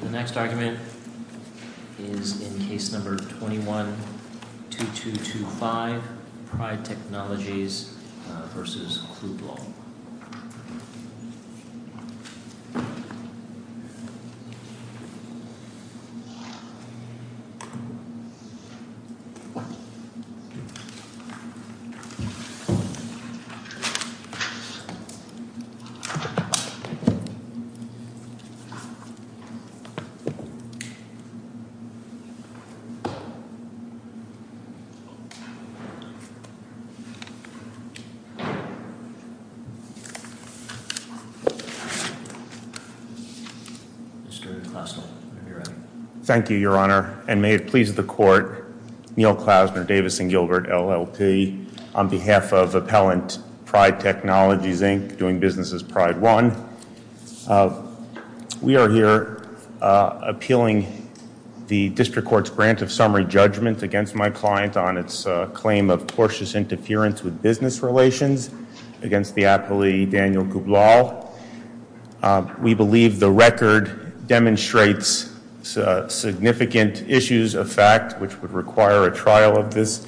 The next argument is in Case No. 21-2225, Pride Technologies v. Khublall Thank you, Your Honor, and may it please the Court, Neal Klausner, Davis & Gilbert, LLC, on behalf of Appellant Pride Technologies, Inc., doing business as Pride One. We are here appealing the District Court's grant of summary judgment against my client on its claim of tortuous interference with business relations against the aptly Daniel Khublall. We believe the record demonstrates significant issues of fact which would require a trial of this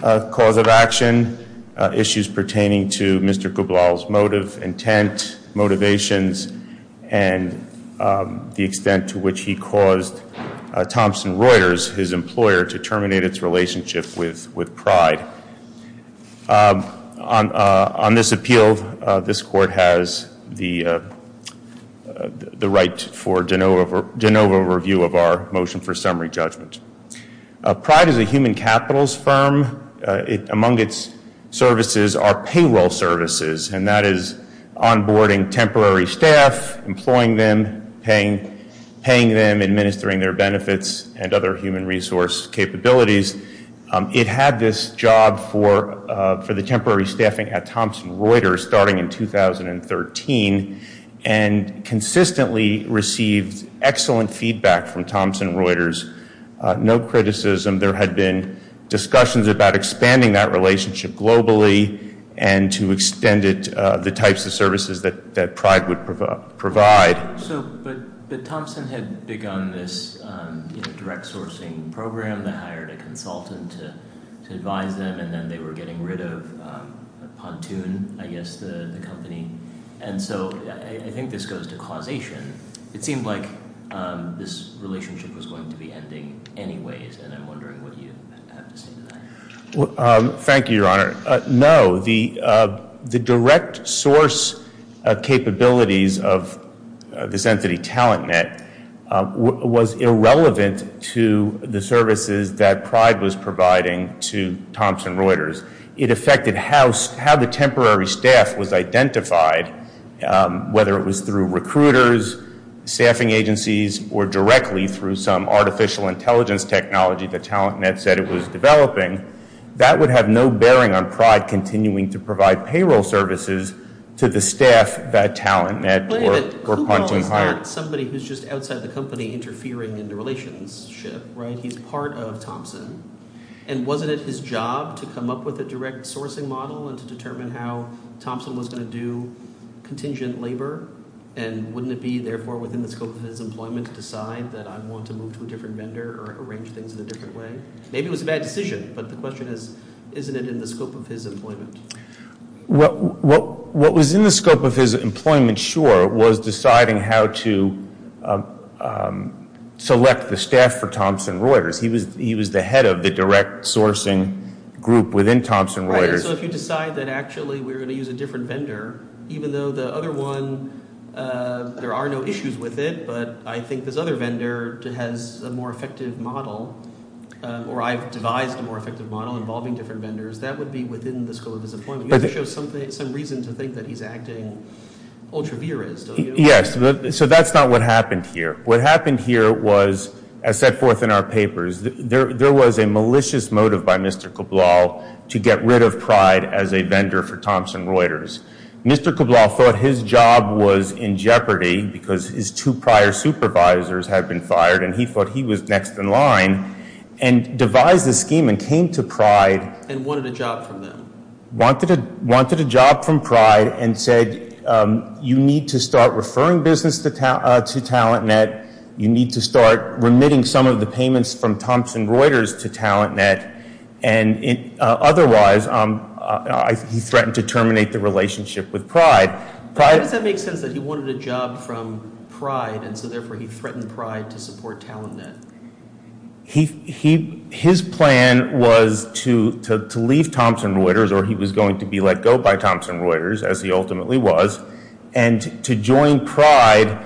cause of action, issues pertaining to Mr. Khublall's motive, intent, motivations, and the extent to which he caused Thompson Reuters, his employer, to terminate its relationship with Pride. On this appeal, this Court has the right for de novo review of our motion for summary judgment. Pride is a human capitals firm. Among its services are payroll services, and that is onboarding temporary staff, employing them, paying them, administering their benefits, and other human resource capabilities. It had this job for the temporary staffing at Thompson Reuters. No criticism. There had been discussions about expanding that relationship globally and to extend it, the types of services that Pride would provide. So, but Thompson had begun this direct sourcing program. They hired a consultant to advise them, and then they were getting rid of Pontoon, I guess, the company. And so, I think this goes to causation. It seemed like this relationship was going to be ending anyways, and I'm wondering what you have to say to that. Well, thank you, Your Honor. No, the direct source capabilities of this entity, TalentNet, was irrelevant to the services that Pride was providing to Thompson Reuters. It affected how the temporary staff was identified, whether it was through recruiters, staffing agencies, or directly through some artificial intelligence technology that TalentNet said it was developing. That would have no bearing on Pride continuing to provide payroll services to the staff that TalentNet or Pontoon hired. But wait a minute. Kubal is not somebody who's just outside the company interfering in the relationship, right? He's part of Thompson. And wasn't it his job to come up with a direct sourcing model and to determine how Thompson was going to do contingent labor? And wouldn't it be, therefore, within the scope of his employment to decide that I want to move to a different vendor or arrange things in a different way? Maybe it was a bad decision, but the question is, isn't it in the scope of his employment? What was in the scope of his employment, sure, was deciding how to select the staff for Thompson Reuters. Right, so if you decide that actually we're going to use a different vendor, even though the other one, there are no issues with it, but I think this other vendor has a more effective model, or I've devised a more effective model involving different vendors, that would be within the scope of his employment. You have to show some reason to think that he's acting ultra-virous, don't you? Yes. So that's not what happened here. What happened here was, as set forth in our papers, there was a malicious motive by Mr. Cabral to get rid of Pride as a vendor for Thompson Reuters. Mr. Cabral thought his job was in jeopardy because his two prior supervisors had been fired, and he thought he was next in line, and devised a scheme and came to Pride. And wanted a job from them. Wanted a job from Pride and said, you need to start referring business to TalentNet, you need to start remitting some of the payments from Thompson Reuters to TalentNet, and otherwise he threatened to terminate the relationship with Pride. Why does that make sense that he wanted a job from Pride, and so therefore he threatened Pride to support TalentNet? His plan was to leave Thompson Reuters, or he was going to be let go by Thompson Reuters, as he ultimately was, and to join Pride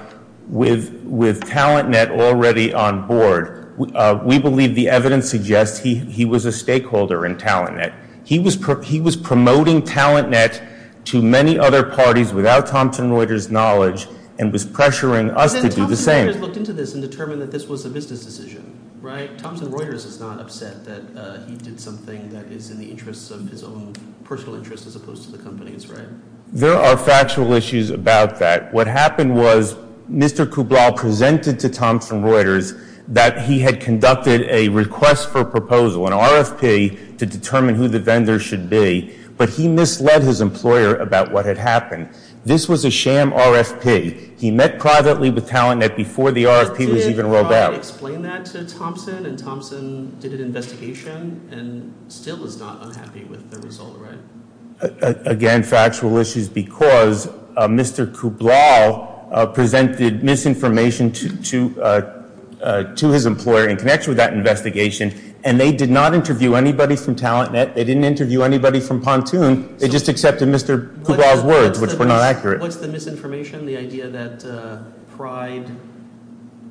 with TalentNet already on board. We believe the evidence suggests he was a stakeholder in TalentNet. He was promoting TalentNet to many other parties without Thompson Reuters' knowledge, and was pressuring us to do the same. But then Thompson Reuters looked into this and determined that this was a business decision, right? Thompson Reuters is not upset that he did something that is in the interests of his own personal interest as opposed to the company's, right? There are factual issues about that. What happened was Mr. Kublau presented to Thompson Reuters that he had conducted a request for a proposal, an RFP, to determine who the vendor should be, but he misled his employer about what had happened. This was a sham RFP. He met privately with TalentNet before the RFP was even rolled out. But did Pride explain that to Thompson, and Thompson did an investigation, and still is not unhappy with the result, right? Again, factual issues, because Mr. Kublau presented misinformation to his employer in connection with that investigation, and they did not interview anybody from TalentNet. They didn't interview anybody from Pontoon. They just accepted Mr. Kublau's words, which were not accurate. What's the misinformation? The idea that Pride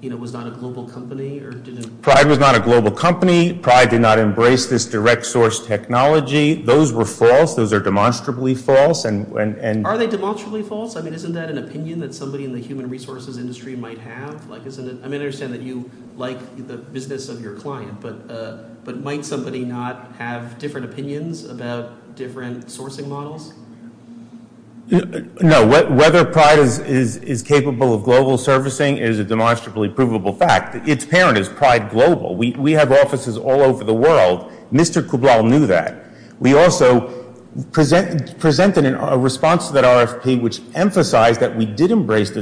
was not a global company? Pride was not a global company. Pride did not embrace this direct source technology. Those were false. Those are demonstrably false. Are they demonstrably false? I mean, isn't that an opinion that somebody in the human resources industry might have? I mean, I understand that you like the business of your client, but might somebody not have different opinions about different sourcing models? No. Whether Pride is capable of global servicing is a demonstrably provable fact. Its parent is Pride Global. We have offices all over the world. Mr. Kublau knew that. We also presented a response to that RFP which emphasized that we did embrace the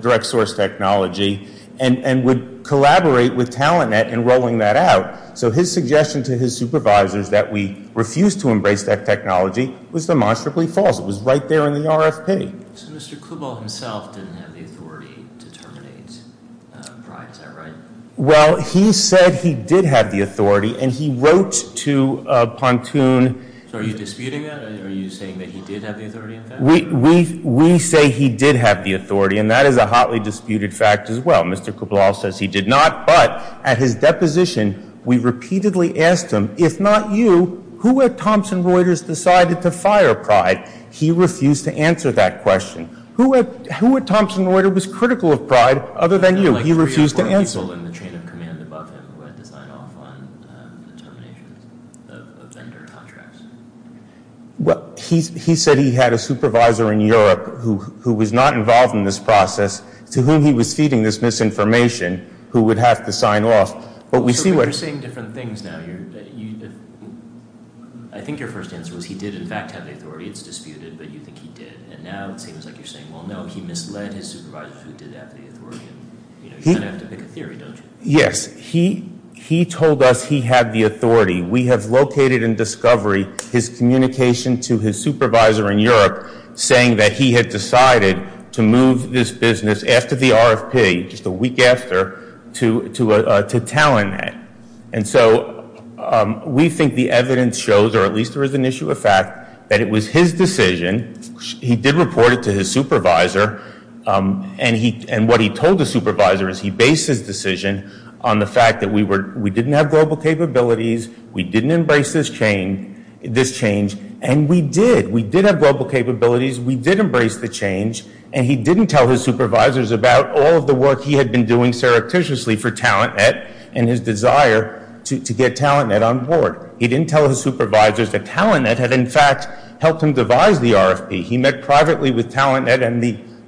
direct source technology and would collaborate with TalentNet in rolling that out. So his suggestion to his supervisors that we refuse to embrace that technology was demonstrably false. It was right there in the RFP. So Mr. Kublau himself didn't have the authority to terminate Pride. Is that right? Well, he said he did have the authority, and he wrote to Pontoon. So are you disputing that? Are you saying that he did have the authority in fact? We say he did have the authority, and that is a hotly disputed fact as well. Mr. Kublau says he did not. But at his deposition, we repeatedly asked him, if not you, who at Thomson Reuters decided to fire Pride? He refused to answer that question. Who at Thomson Reuters was critical of Pride other than you? He refused to answer. There were three or four people in the chain of command above him who had to sign off on the termination of vendor contracts. He said he had a supervisor in Europe who was not involved in this process to whom he was feeding this misinformation who would have to sign off. So you're saying different things now. I think your first answer was he did in fact have the authority. It's disputed, but you think he did. And now it seems like you're saying, well, no, he misled his supervisors who did have the authority. You kind of have to pick a theory, don't you? Yes. He told us he had the authority. We have located in discovery his communication to his supervisor in Europe saying that he had decided to move this business after the RFP, just a week after, to Talonhead. And so we think the evidence shows, or at least there is an issue of fact, that it was his decision. He did report it to his supervisor. And what he told the supervisor is he based his decision on the fact that we didn't have global capabilities, we didn't embrace this change, and we did. We did have global capabilities, we did embrace the change, and he didn't tell his supervisors about all of the work he had been doing surreptitiously for Talonhead and his desire to get Talonhead on board. He didn't tell his supervisors that Talonhead had, in fact, helped him devise the RFP. He met privately with Talonhead and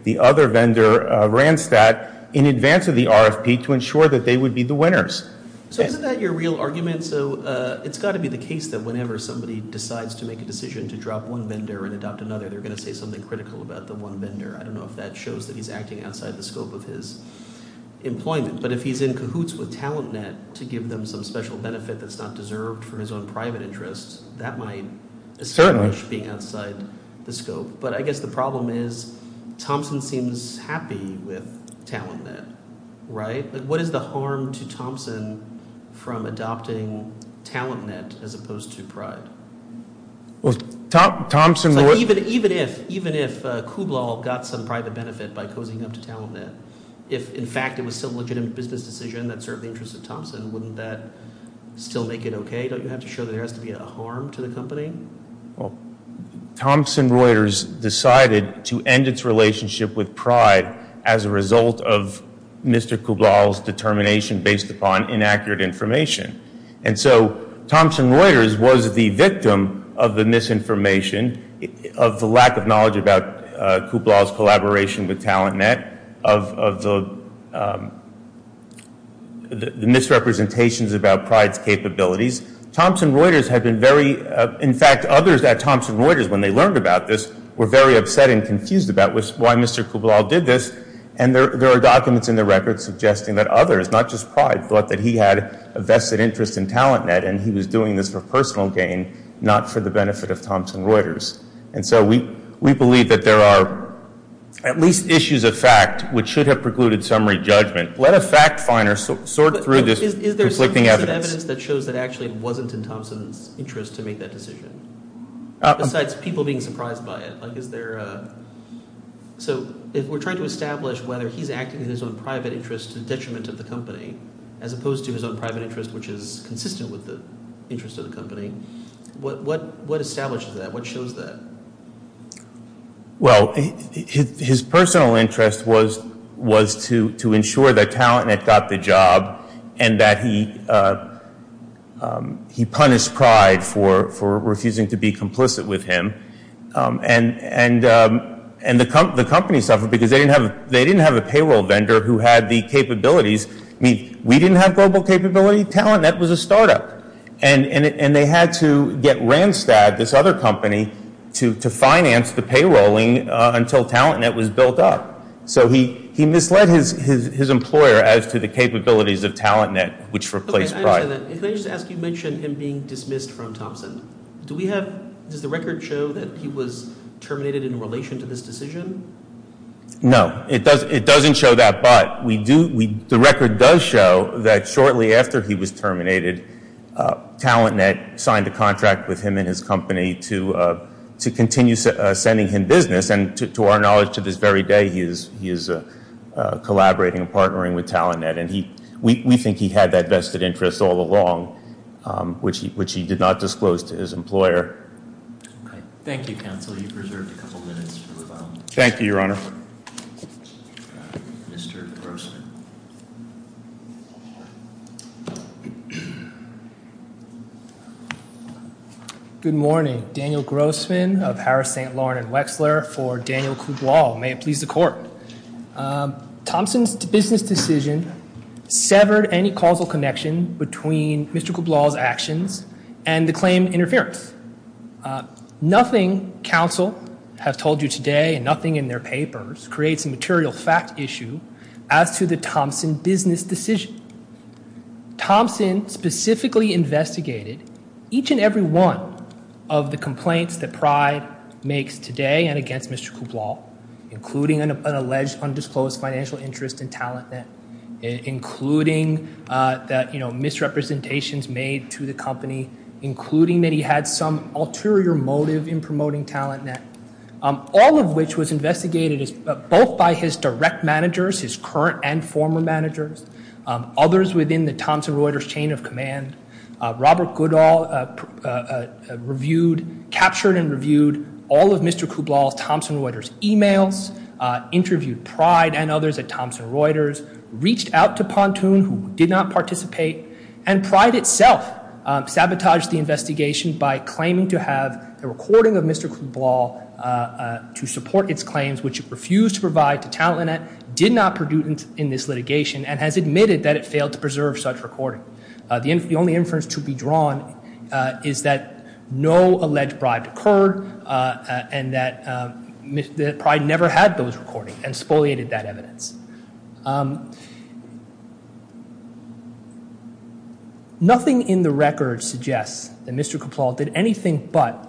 the other vendor, Randstad, in advance of the RFP to ensure that they would be the winners. So isn't that your real argument? So it's got to be the case that whenever somebody decides to make a decision to drop one vendor and adopt another, they're going to say something critical about the one vendor. I don't know if that shows that he's acting outside the scope of his employment. But if he's in cahoots with Talonhead to give them some special benefit that's not deserved and worked for his own private interests, that might establish being outside the scope. But I guess the problem is Thompson seems happy with Talonhead, right? What is the harm to Thompson from adopting Talonhead as opposed to Pride? Well, Thompson would— Even if Kublal got some private benefit by cozying up to Talonhead, if in fact it was still a legitimate business decision that served the interests of Thompson, wouldn't that still make it okay? Don't you have to show that there has to be a harm to the company? Well, Thompson Reuters decided to end its relationship with Pride as a result of Mr. Kublal's determination based upon inaccurate information. And so Thompson Reuters was the victim of the misinformation, of the lack of knowledge about Kublal's collaboration with Talonhead, of the misrepresentations about Pride's capabilities. Thompson Reuters had been very— In fact, others at Thompson Reuters when they learned about this were very upset and confused about why Mr. Kublal did this. And there are documents in the record suggesting that others, not just Pride, thought that he had a vested interest in Talonhead and he was doing this for personal gain, not for the benefit of Thompson Reuters. And so we believe that there are at least issues of fact which should have precluded summary judgment. Let a fact finder sort through this conflicting evidence. But is there some piece of evidence that shows that actually it wasn't in Thompson's interest to make that decision? Besides people being surprised by it. Like is there a—so if we're trying to establish whether he's acting in his own private interest to the detriment of the company, as opposed to his own private interest which is consistent with the interest of the company, what establishes that? What shows that? Well, his personal interest was to ensure that Talonhead got the job and that he punished Pride for refusing to be complicit with him. And the company suffered because they didn't have a payroll vendor who had the capabilities. I mean, we didn't have global capability. Talonhead was a startup. And they had to get Randstad, this other company, to finance the payrolling until Talonhead was built up. So he misled his employer as to the capabilities of Talonhead, which replaced Pride. I understand that. If I could just ask, you mentioned him being dismissed from Thompson. Do we have—does the record show that he was terminated in relation to this decision? No. It doesn't show that. But the record does show that shortly after he was terminated, Talonhead signed a contract with him and his company to continue sending him business. And to our knowledge, to this very day, he is collaborating and partnering with Talonhead. And we think he had that vested interest all along, which he did not disclose to his employer. Okay. Thank you, counsel. You've preserved a couple minutes for rebuttal. Thank you, Your Honor. Mr. Grossman. Good morning. Daniel Grossman of Harris, St. Lawrence & Wexler for Daniel Kublau. May it please the Court. Thompson's business decision severed any causal connection between Mr. Kublau's actions and the claimed interference. Nothing counsel has told you today and nothing in their papers creates a material fact issue as to the Thompson business decision. Thompson specifically investigated each and every one of the complaints that Pride makes today and against Mr. Kublau, including an alleged undisclosed financial interest in Talonhead, including misrepresentations made to the company, including that he had some ulterior motive in promoting Talonhead, all of which was investigated both by his direct managers, his current and former managers, others within the Thomson Reuters chain of command. Robert Goodall captured and reviewed all of Mr. Kublau's Thomson Reuters emails, interviewed Pride and others at Thomson Reuters, reached out to Pontoon, who did not participate, and Pride itself sabotaged the investigation by claiming to have a recording of Mr. Kublau to support its claims, which it refused to provide to Talonhead, did not produce in this litigation, and has admitted that it failed to preserve such a recording. The only inference to be drawn is that no alleged bribe occurred and that Pride never had those recordings and spoliated that evidence. Nothing in the record suggests that Mr. Kublau did anything but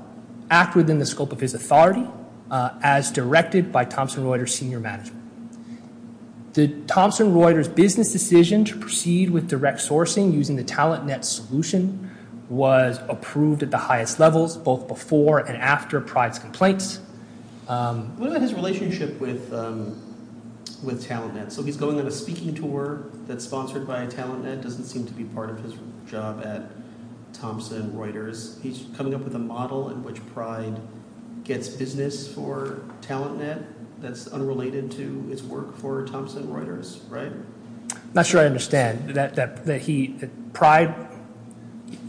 act within the scope of his authority as directed by Thomson Reuters senior management. The Thomson Reuters business decision to proceed with direct sourcing using the Talonhead solution was approved at the highest levels, both before and after Pride's complaints. What about his relationship with Talonhead? So he's going on a speaking tour that's sponsored by Talonhead, doesn't seem to be part of his job at Thomson Reuters. He's coming up with a model in which Pride gets business for Talonhead that's unrelated to his work for Thomson Reuters, right? I'm not sure I understand. Pride,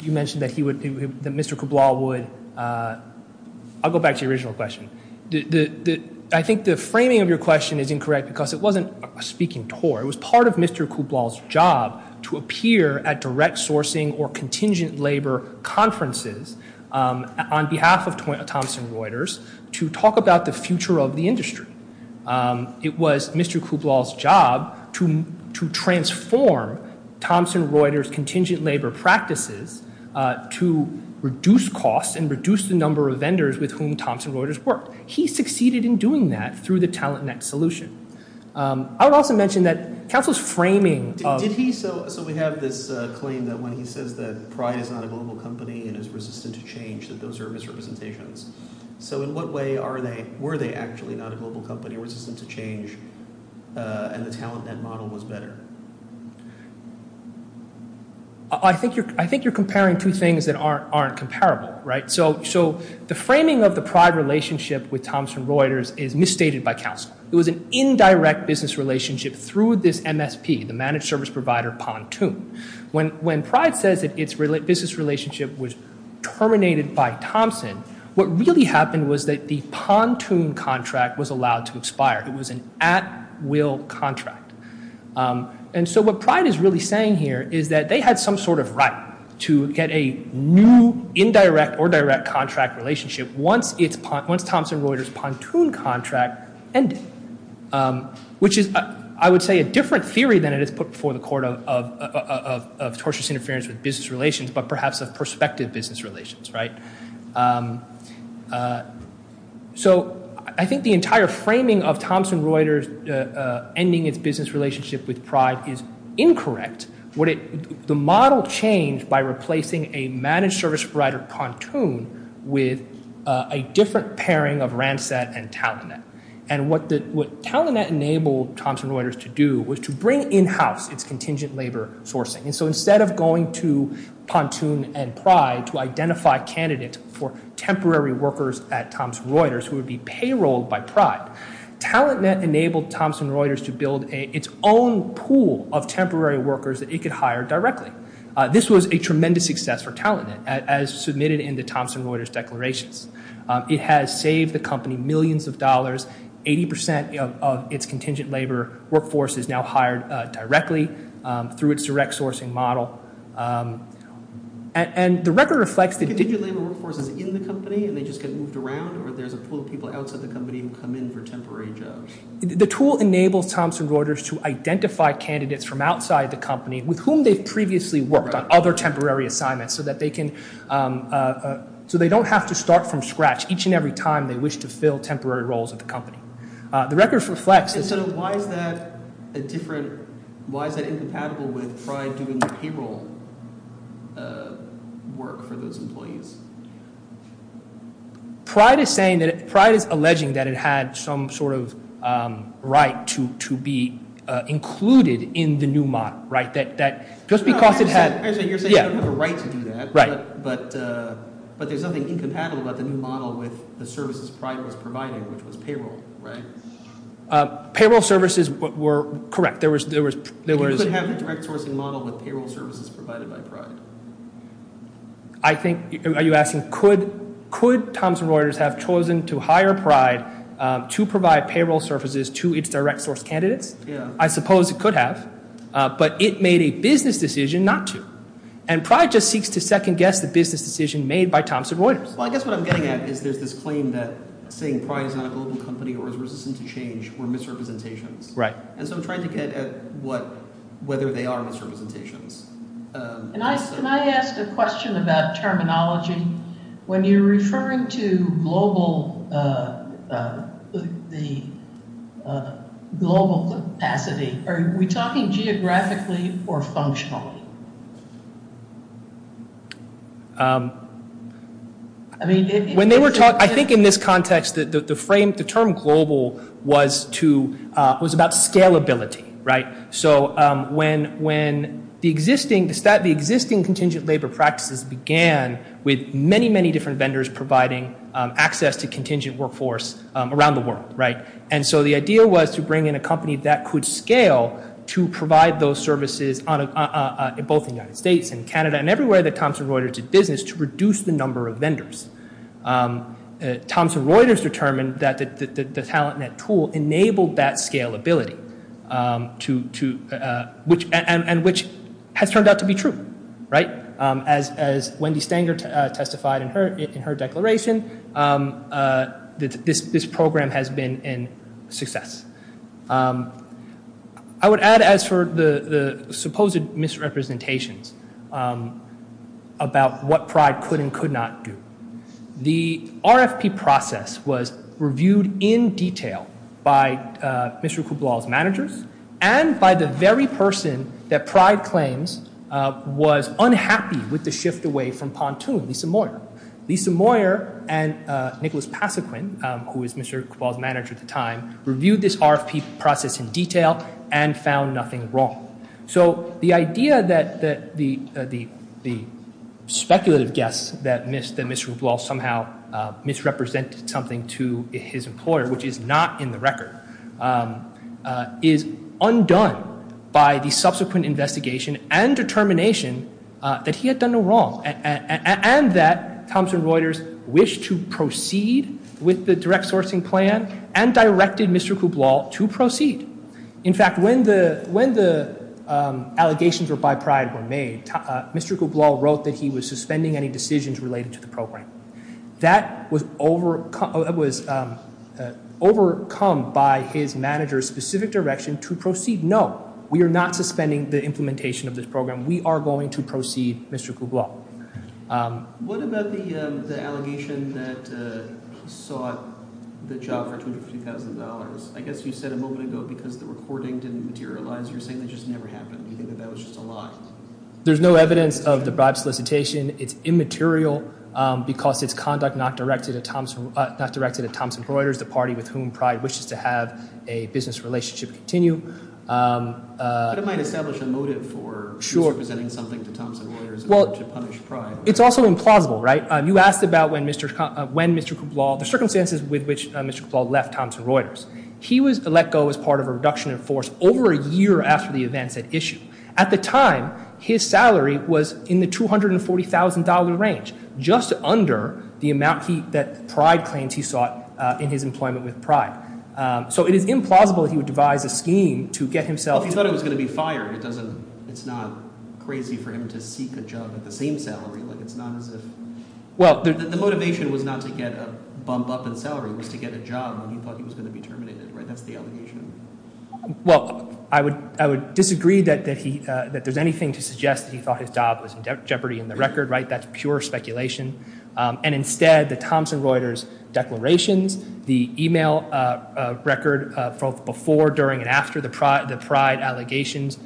you mentioned that Mr. Kublau would... I'll go back to your original question. I think the framing of your question is incorrect because it wasn't a speaking tour. It was part of Mr. Kublau's job to appear at direct sourcing or contingent labor conferences on behalf of Thomson Reuters to talk about the future of the industry. It was Mr. Kublau's job to transform Thomson Reuters contingent labor practices to reduce costs and reduce the number of vendors with whom Thomson Reuters worked. He succeeded in doing that through the Talonhead solution. I would also mention that Council's framing... So we have this claim that when he says that Pride is not a global company and is resistant to change, that those are misrepresentations. So in what way were they actually not a global company, resistant to change, and the Talonhead model was better? I think you're comparing two things that aren't comparable, right? So the framing of the Pride relationship with Thomson Reuters is misstated by Council. It was an indirect business relationship through this MSP, the managed service provider, Pontoon. When Pride says that its business relationship was terminated by Thomson, what really happened was that the Pontoon contract was allowed to expire. It was an at-will contract. And so what Pride is really saying here is that they had some sort of right to get a new indirect or direct contract relationship once Thomson Reuters' Pontoon contract ended, which is, I would say, a different theory than it is put before the court of tortious interference with business relations, but perhaps of prospective business relations, right? So I think the entire framing of Thomson Reuters ending its business relationship with Pride is incorrect. The model changed by replacing a managed service provider, Pontoon, with a different pairing of Ransett and Talonhead. And what Talonhead enabled Thomson Reuters to do was to bring in-house its contingent labor sourcing. And so instead of going to Pontoon and Pride to identify candidates for temporary workers at Thomson Reuters who would be payrolled by Pride, Talonhead enabled Thomson Reuters to build its own pool of temporary workers that it could hire directly. This was a tremendous success for Talonhead, as submitted in the Thomson Reuters declarations. It has saved the company millions of dollars. Eighty percent of its contingent labor workforce is now hired directly through its direct sourcing model. And the record reflects that- The tool enables Thomson Reuters to identify candidates from outside the company with whom they've previously worked on other temporary assignments so that they can- so they don't have to start from scratch each and every time they wish to fill temporary roles at the company. The record reflects- And so why is that a different- why is that incompatible with Pride doing the payroll work for those employees? Pride is saying that- Pride is alleging that it had some sort of right to be included in the new model, right? That just because it had- No, I understand. You're saying you don't have a right to do that. Right. But there's nothing incompatible about the new model with the services Pride was providing, which was payroll. Right. Payroll services were correct. There was- You couldn't have the direct sourcing model with payroll services provided by Pride. I think- are you asking- could Thomson Reuters have chosen to hire Pride to provide payroll services to its direct source candidates? Yeah. I suppose it could have, but it made a business decision not to. And Pride just seeks to second-guess the business decision made by Thomson Reuters. Well, I guess what I'm getting at is there's this claim that saying Pride is not a global company or is resistant to change were misrepresentations. Right. And so I'm trying to get at what- whether they are misrepresentations. Can I ask a question about terminology? When you're referring to global capacity, are we talking geographically or functionally? I think in this context, the term global was about scalability, right? So when the existing contingent labor practices began with many, many different vendors providing access to contingent workforce around the world, right? And so the idea was to bring in a company that could scale to provide those services both in the United States and Canada and everywhere that Thomson Reuters did business to reduce the number of vendors. Thomson Reuters determined that the TalentNet tool enabled that scalability and which has turned out to be true, right? As Wendy Stanger testified in her declaration, this program has been a success. I would add as for the supposed misrepresentations about what Pride could and could not do. The RFP process was reviewed in detail by Mr. Kublal's managers and by the very person that Pride claims was unhappy with the shift away from Pontoon, Lisa Moyer. Lisa Moyer and Nicholas Pasequin, who was Mr. Kublal's manager at the time, reviewed this RFP process in detail and found nothing wrong. So the idea that the speculative guess that Mr. Kublal somehow misrepresented something to his employer, which is not in the record, is undone by the subsequent investigation and determination that he had done no wrong. And that Thomson Reuters wished to proceed with the direct sourcing plan and directed Mr. Kublal to proceed. In fact, when the allegations were by Pride were made, Mr. Kublal wrote that he was suspending any decisions related to the program. That was overcome by his manager's specific direction to proceed. No, we are not suspending the implementation of this program. We are going to proceed Mr. Kublal. What about the allegation that he sought the job for $250,000? I guess you said a moment ago because the recording didn't materialize, you're saying that just never happened. You think that that was just a lie? There's no evidence of the bribe solicitation. It's immaterial because it's conduct not directed at Thomson Reuters, the party with whom Pride wishes to have a business relationship continue. But it might establish a motive for misrepresenting something to Thomson Reuters in order to punish Pride. It's also implausible, right? You asked about when Mr. Kublal, the circumstances with which Mr. Kublal left Thomson Reuters. He was let go as part of a reduction in force over a year after the events at issue. At the time, his salary was in the $240,000 range, just under the amount that Pride claims he sought in his employment with Pride. So it is implausible that he would devise a scheme to get himself— Well, if he thought he was going to be fired, it's not crazy for him to seek a job at the same salary. It's not as if—the motivation was not to get a bump up in salary. It was to get a job when he thought he was going to be terminated, right? That's the allegation. Well, I would disagree that there's anything to suggest that he thought his job was in jeopardy in the record, right? That's pure speculation. And instead, the Thomson Reuters declarations, the email record from before, during, and after the Pride allegations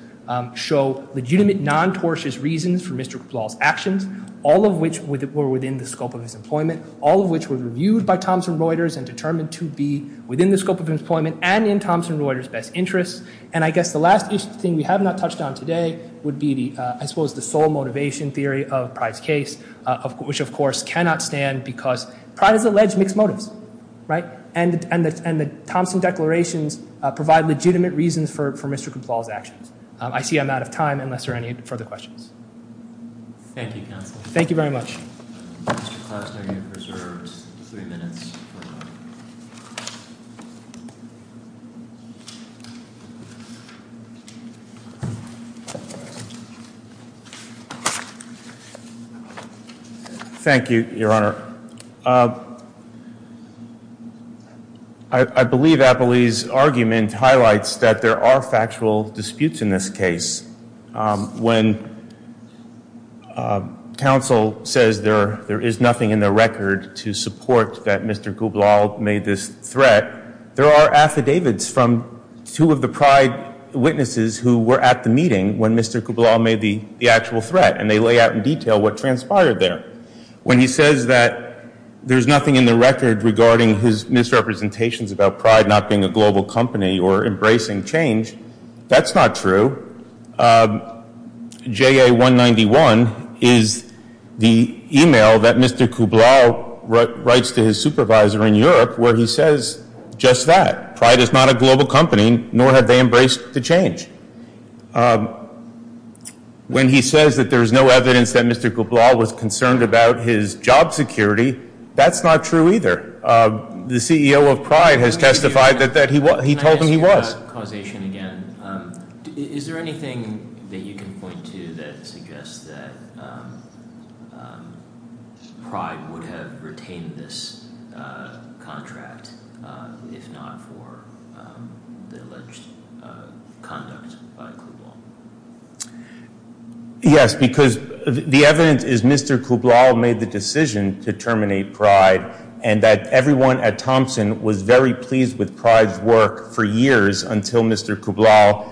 show legitimate, non-tortious reasons for Mr. Kublal's actions, all of which were within the scope of his employment, all of which were reviewed by Thomson Reuters and determined to be within the scope of his employment and in Thomson Reuters' best interest. And I guess the last thing we have not touched on today would be, I suppose, the sole motivation theory of Pride's case, which, of course, cannot stand because Pride has alleged mixed motives, right? And the Thomson declarations provide legitimate reasons for Mr. Kublal's actions. I see I'm out of time unless there are any further questions. Thank you, counsel. Thank you very much. Mr. Klausner, you have reserved three minutes. Thank you, Your Honor. I believe Appleby's argument highlights that there are factual disputes in this case. When counsel says there is nothing in the record to support that Mr. Kublal made this threat, there are affidavits from two of the Pride witnesses who were at the meeting when Mr. Kublal made the actual threat, and they lay out in detail what transpired there. When he says that there's nothing in the record regarding his misrepresentations about Pride not being a global company or embracing change, that's not true. JA191 is the email that Mr. Kublal writes to his supervisor in Europe where he says just that. Pride is not a global company, nor have they embraced the change. When he says that there is no evidence that Mr. Kublal was concerned about his job security, that's not true either. The CEO of Pride has testified that he told them he was. Can I ask you about causation again? Is there anything that you can point to that suggests that Pride would have retained this contract, if not for the alleged conduct by Kublal? Yes, because the evidence is Mr. Kublal made the decision to terminate Pride and that everyone at Thompson was very pleased with Pride's work for years until Mr. Kublal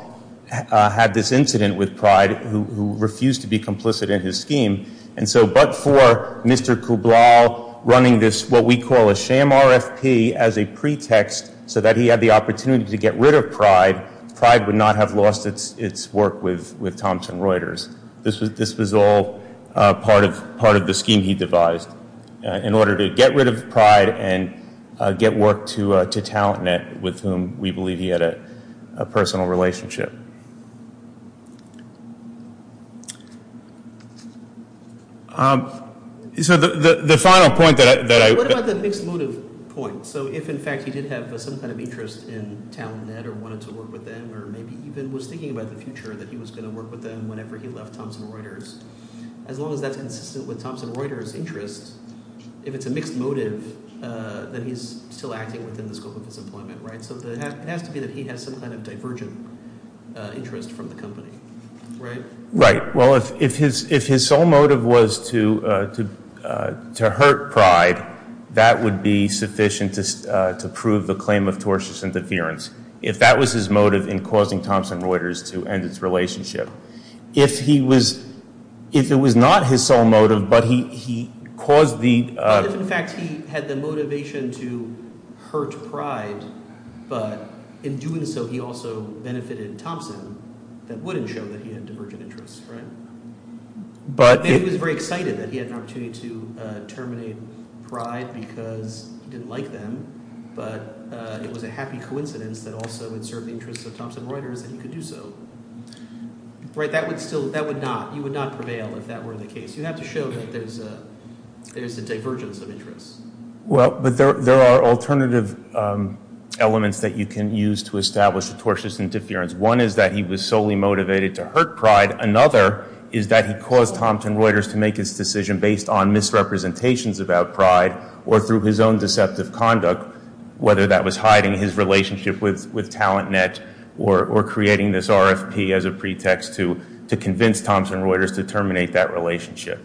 had this incident with Pride, who refused to be complicit in his scheme. But for Mr. Kublal running this, what we call a sham RFP, as a pretext so that he had the opportunity to get rid of Pride, Pride would not have lost its work with Thompson Reuters. This was all part of the scheme he devised in order to get rid of Pride and get work to TalentNet, with whom we believe he had a personal relationship. What about the mixed motive point? So if, in fact, he did have some kind of interest in TalentNet or wanted to work with them or maybe even was thinking about the future that he was going to work with them whenever he left Thompson Reuters, as long as that's consistent with Thompson Reuters' interest, if it's a mixed motive, then he's still acting within the scope of his employment, right? So it has to be that he has some kind of divergent, interest from the company, right? Right. Well, if his sole motive was to hurt Pride, that would be sufficient to prove the claim of tortious interference. If that was his motive in causing Thompson Reuters to end its relationship, if it was not his sole motive but he caused the – but in doing so, he also benefited Thompson, that wouldn't show that he had divergent interests, right? But – Maybe he was very excited that he had an opportunity to terminate Pride because he didn't like them, but it was a happy coincidence that also it served the interests of Thompson Reuters and he could do so. Right, that would still – that would not – you would not prevail if that were the case. You'd have to show that there's a divergence of interests. Well, but there are alternative elements that you can use to establish a tortious interference. One is that he was solely motivated to hurt Pride. Another is that he caused Thompson Reuters to make its decision based on misrepresentations about Pride or through his own deceptive conduct, whether that was hiding his relationship with TalentNet or creating this RFP as a pretext to convince Thompson Reuters to terminate that relationship.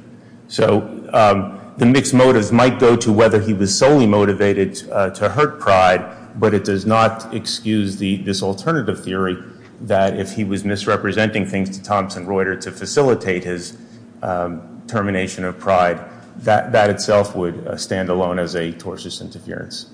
So the mixed motives might go to whether he was solely motivated to hurt Pride, but it does not excuse this alternative theory that if he was misrepresenting things to Thompson Reuters to facilitate his termination of Pride, that itself would stand alone as a tortious interference.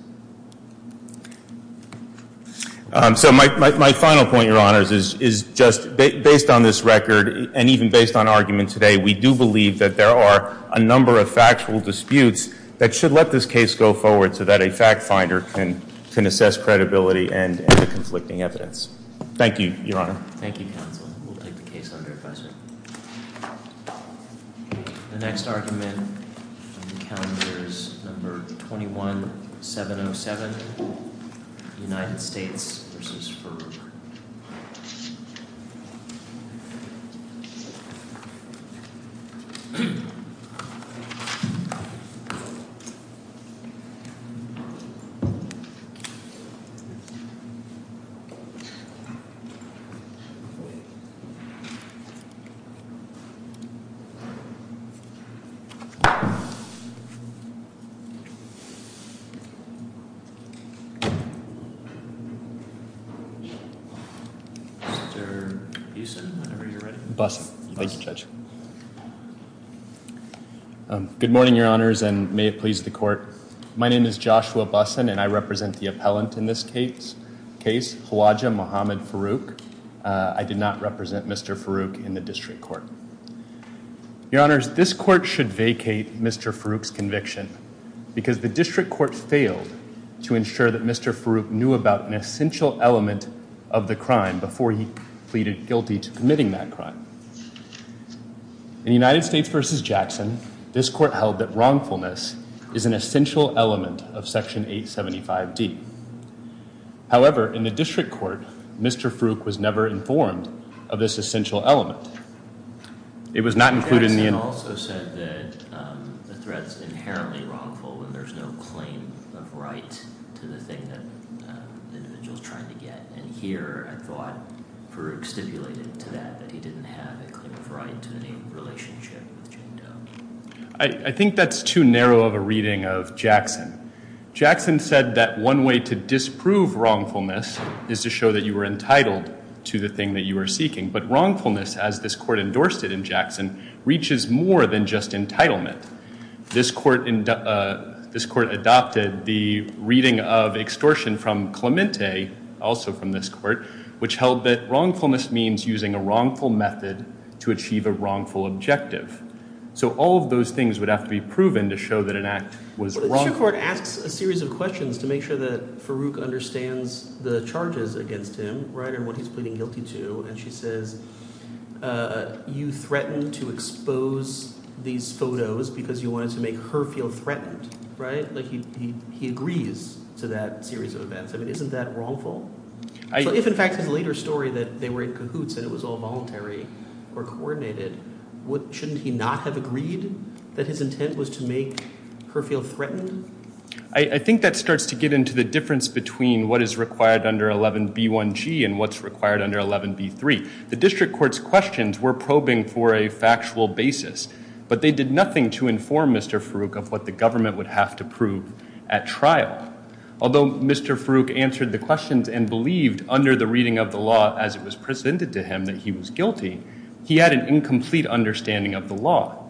So my final point, Your Honors, is just based on this record and even based on argument today, we do believe that there are a number of factual disputes that should let this case go forward so that a fact finder can assess credibility and conflicting evidence. Thank you, Your Honor. Thank you, Counsel. We'll take the case under advisory. The next argument on the calendar is No. 21-707, United States v. Ferber. Mr. Usen, whenever you're ready. Thank you, Judge. Good morning, Your Honors, and may it please the Court. My name is Joshua Bussen, and I represent the appellant in this case, Hawaja Muhammad Farooq. I did not represent Mr. Farooq in the district court. Your Honors, this court should vacate Mr. Farooq's conviction because the district court failed to ensure that Mr. Farooq knew about an essential element of the crime before he pleaded guilty to committing that crime. In United States v. Jackson, this court held that wrongfulness is an essential element of Section 875D. However, in the district court, Mr. Farooq was never informed of this essential element. Jackson also said that the threat's inherently wrongful when there's no claim of right to the thing that the individual's trying to get. And here, I thought, Farooq stipulated to that that he didn't have a claim of right to any relationship with Jane Doe. And as this court endorsed it in Jackson, reaches more than just entitlement. This court adopted the reading of extortion from Clemente, also from this court, which held that wrongfulness means using a wrongful method to achieve a wrongful objective. So all of those things would have to be proven to show that an act was wrongful. The district court asks a series of questions to make sure that Farooq understands the charges against him, right, what he's pleading guilty to, and she says, you threatened to expose these photos because you wanted to make her feel threatened, right? Like he agrees to that series of events. I mean, isn't that wrongful? So if, in fact, his later story that they were in cahoots and it was all voluntary or coordinated, shouldn't he not have agreed that his intent was to make her feel threatened? I think that starts to get into the difference between what is required under 11b1g and what's required under 11b3. The district court's questions were probing for a factual basis, but they did nothing to inform Mr. Farooq of what the government would have to prove at trial. Although Mr. Farooq answered the questions and believed under the reading of the law, as it was presented to him, that he was guilty, he had an incomplete understanding of the law.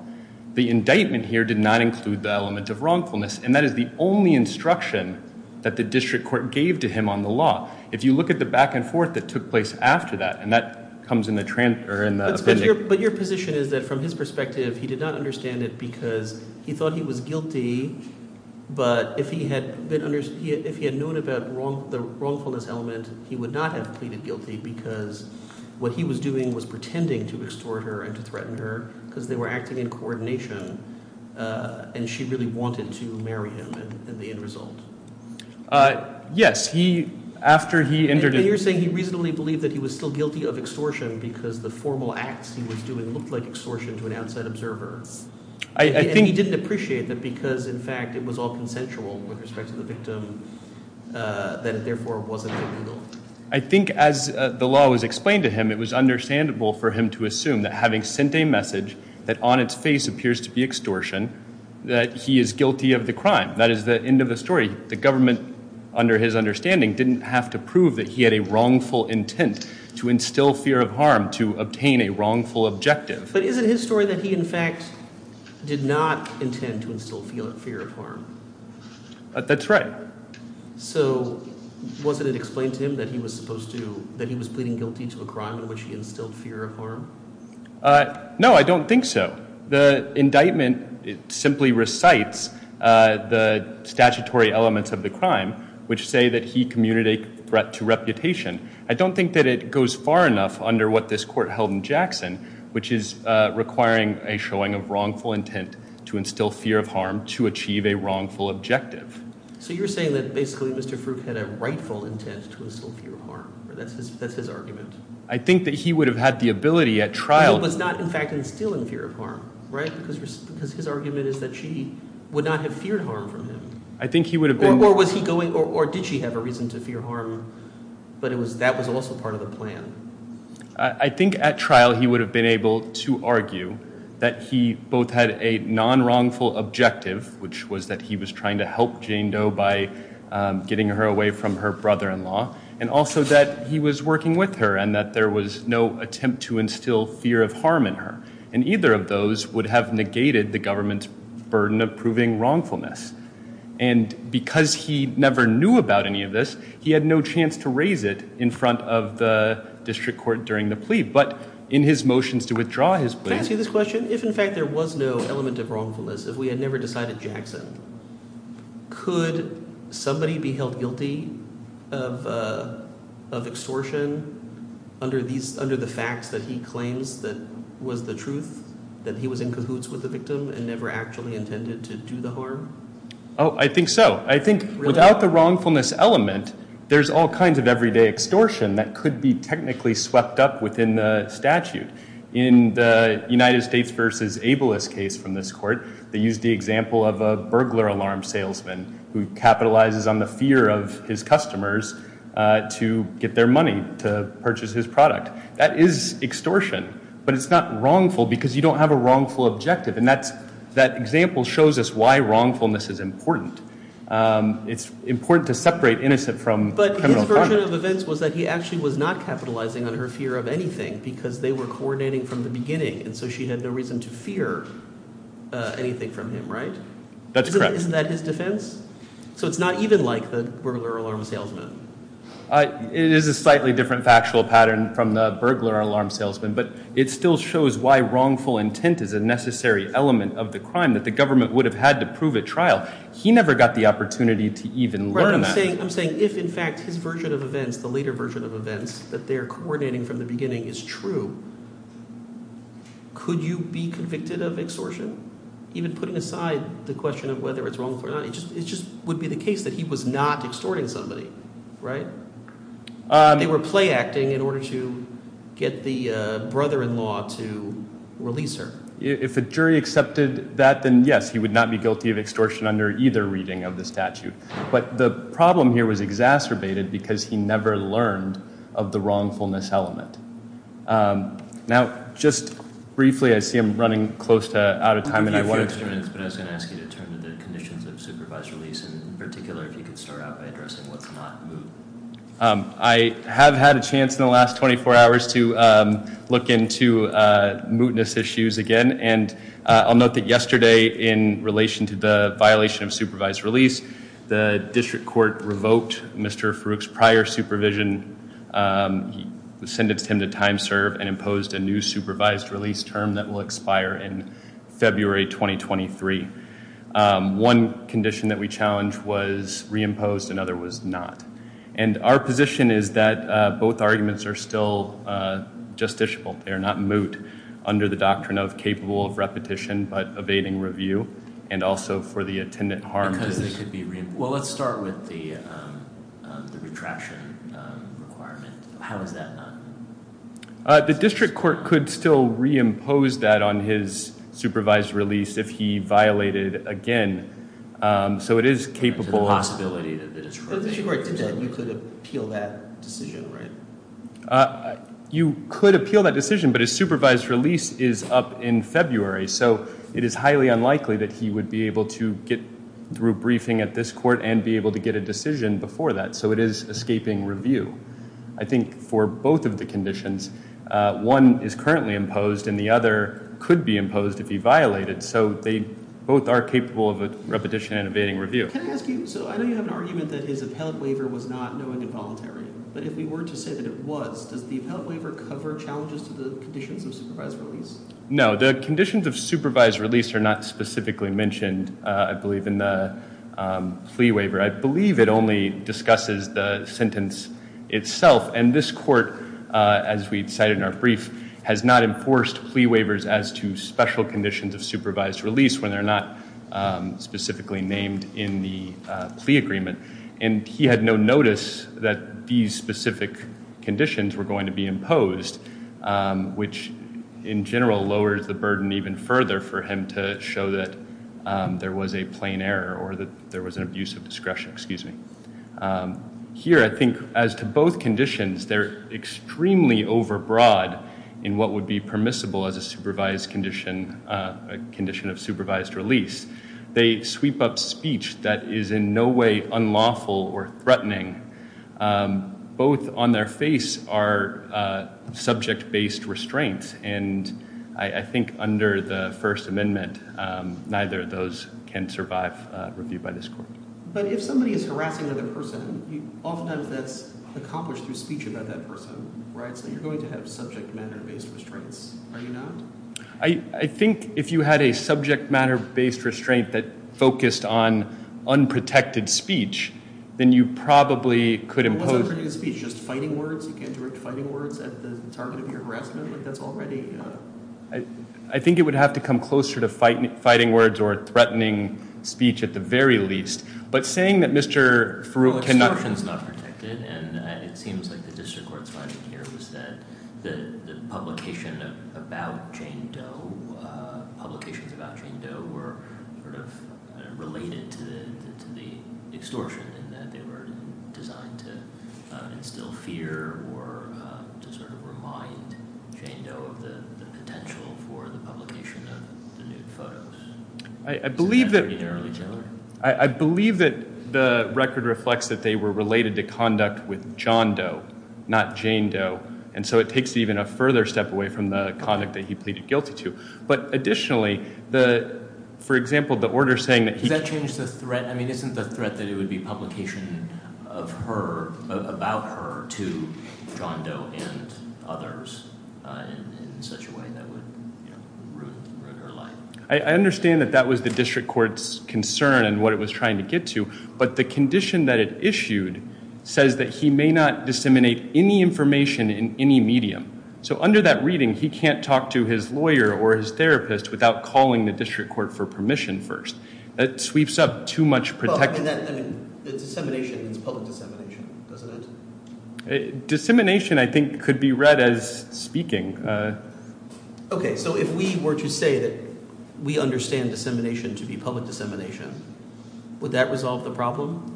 The indictment here did not include the element of wrongfulness, and that is the only instruction that the district court gave to him on the law. If you look at the back and forth that took place after that, and that comes in the appendix. But your position is that from his perspective, he did not understand it because he thought he was guilty, but if he had known about the wrongfulness element, he would not have pleaded guilty because what he was doing was pretending to extort her and to threaten her because they were acting in coordination, and she really wanted to marry him in the end result. Yes. He, after he entered into- And you're saying he reasonably believed that he was still guilty of extortion because the formal acts he was doing looked like extortion to an outside observer. I think- And he didn't appreciate that because, in fact, it was all consensual with respect to the victim, that it therefore wasn't illegal. I think as the law was explained to him, it was understandable for him to assume that having sent a message that on its face appears to be extortion, that he is guilty of the crime. That is the end of the story. The government, under his understanding, didn't have to prove that he had a wrongful intent to instill fear of harm to obtain a wrongful objective. But is it his story that he, in fact, did not intend to instill fear of harm? That's right. So wasn't it explained to him that he was supposed to- that he was pleading guilty to a crime in which he instilled fear of harm? No, I don't think so. The indictment simply recites the statutory elements of the crime, which say that he commuted a threat to reputation. I don't think that it goes far enough under what this court held in Jackson, which is requiring a showing of wrongful intent to instill fear of harm to achieve a wrongful objective. So you're saying that basically Mr. Fruk had a rightful intent to instill fear of harm. That's his argument. I think that he would have had the ability at trial- But he was not, in fact, instilling fear of harm, right? Because his argument is that she would not have feared harm from him. I think he would have been- Or was he going- or did she have a reason to fear harm, but that was also part of the plan? I think at trial he would have been able to argue that he both had a non-wrongful objective, which was that he was trying to help Jane Doe by getting her away from her brother-in-law, and also that he was working with her and that there was no attempt to instill fear of harm in her. And either of those would have negated the government's burden of proving wrongfulness. And because he never knew about any of this, he had no chance to raise it in front of the district court during the plea. But in his motions to withdraw his plea- Can I ask you this question? If, in fact, there was no element of wrongfulness, if we had never decided Jackson, could somebody be held guilty of extortion under the facts that he claims was the truth, that he was in cahoots with the victim and never actually intended to do the harm? Oh, I think so. I think without the wrongfulness element, there's all kinds of everyday extortion that could be technically swept up within the statute. In the United States v. Abeles case from this court, they used the example of a burglar alarm salesman who capitalizes on the fear of his customers to get their money to purchase his product. That is extortion, but it's not wrongful because you don't have a wrongful objective. And that example shows us why wrongfulness is important. It's important to separate innocent from criminal. But his version of events was that he actually was not capitalizing on her fear of anything because they were coordinating from the beginning, and so she had no reason to fear anything from him, right? That's correct. Isn't that his defense? So it's not even like the burglar alarm salesman. It is a slightly different factual pattern from the burglar alarm salesman, but it still shows why wrongful intent is a necessary element of the crime that the government would have had to prove at trial. He never got the opportunity to even learn that. I'm saying if in fact his version of events, the later version of events, that they're coordinating from the beginning is true, could you be convicted of extortion? Even putting aside the question of whether it's wrongful or not, it just would be the case that he was not extorting somebody, right? They were playacting in order to get the brother-in-law to release her. If a jury accepted that, then yes, he would not be guilty of extortion under either reading of the statute. But the problem here was exacerbated because he never learned of the wrongfulness element. Now, just briefly, I see I'm running close to out of time. I have a few extra minutes, but I was going to ask you to turn to the conditions of supervised release, in particular if you could start out by addressing what's not moot. I have had a chance in the last 24 hours to look into mootness issues again, and I'll note that yesterday in relation to the violation of supervised release, the district court revoked Mr. Farooq's prior supervision, sentenced him to time serve, and imposed a new supervised release term that will expire in February 2023. One condition that we challenged was reimposed, another was not. And our position is that both arguments are still justiciable. They are not moot under the doctrine of capable of repetition but evading review, and also for the attendant harm. Because they could be reimposed. Well, let's start with the retraction requirement. How is that not moot? The district court could still reimpose that on his supervised release if he violated again. So it is capable. There's a possibility that the district court did that. You could appeal that decision, right? You could appeal that decision, but his supervised release is up in February, so it is highly unlikely that he would be able to get through a briefing at this court and be able to get a decision before that. So it is escaping review. I think for both of the conditions, one is currently imposed, and the other could be imposed if he violated. So they both are capable of a repetition and evading review. Can I ask you, so I know you have an argument that his appellate waiver was not knowing and voluntary, but if we were to say that it was, does the appellate waiver cover challenges to the conditions of supervised release? No. The conditions of supervised release are not specifically mentioned, I believe, in the flee waiver. I believe it only discusses the sentence itself, and this court, as we cited in our brief, has not enforced plea waivers as to special conditions of supervised release when they're not specifically named in the plea agreement. And he had no notice that these specific conditions were going to be imposed, which in general lowers the burden even further for him to show that there was a plain error or that there was an abuse of discretion. Here I think as to both conditions, they're extremely overbroad in what would be permissible as a supervised condition, a condition of supervised release. They sweep up speech that is in no way unlawful or threatening. Both on their face are subject-based restraints, and I think under the First Amendment, neither of those can survive review by this court. But if somebody is harassing another person, oftentimes that's accomplished through speech about that person, right? So you're going to have subject-matter-based restraints, are you not? I think if you had a subject-matter-based restraint that focused on unprotected speech, then you probably could impose- You can't direct fighting words at the target of your harassment, but that's already- I think it would have to come closer to fighting words or threatening speech at the very least. But saying that Mr. Farooq cannot- Extortion is not protected, and it seems like the district court's finding here was that the publications about Jane Doe were sort of related to the extortion in that they were designed to instill fear or to sort of remind Jane Doe of the potential for the publication of the nude photos. I believe that the record reflects that they were related to conduct with John Doe, not Jane Doe, and so it takes it even a further step away from the conduct that he pleaded guilty to. But additionally, for example, the order saying that he- about her to John Doe and others in such a way that would ruin her life. I understand that that was the district court's concern and what it was trying to get to, but the condition that it issued says that he may not disseminate any information in any medium. So under that reading, he can't talk to his lawyer or his therapist without calling the district court for permission first. That sweeps up too much protection. I mean, dissemination is public dissemination, doesn't it? Dissemination, I think, could be read as speaking. Okay, so if we were to say that we understand dissemination to be public dissemination, would that resolve the problem?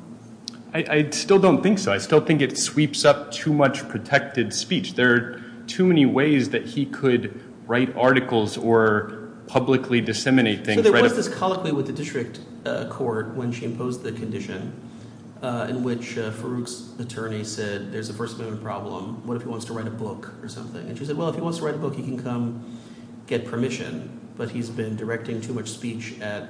I still don't think so. I still think it sweeps up too much protected speech. There are too many ways that he could write articles or publicly disseminate things. There was this colloquy with the district court when she imposed the condition in which Farouk's attorney said there's a first amendment problem. What if he wants to write a book or something? And she said, well, if he wants to write a book, he can come get permission. But he's been directing too much speech at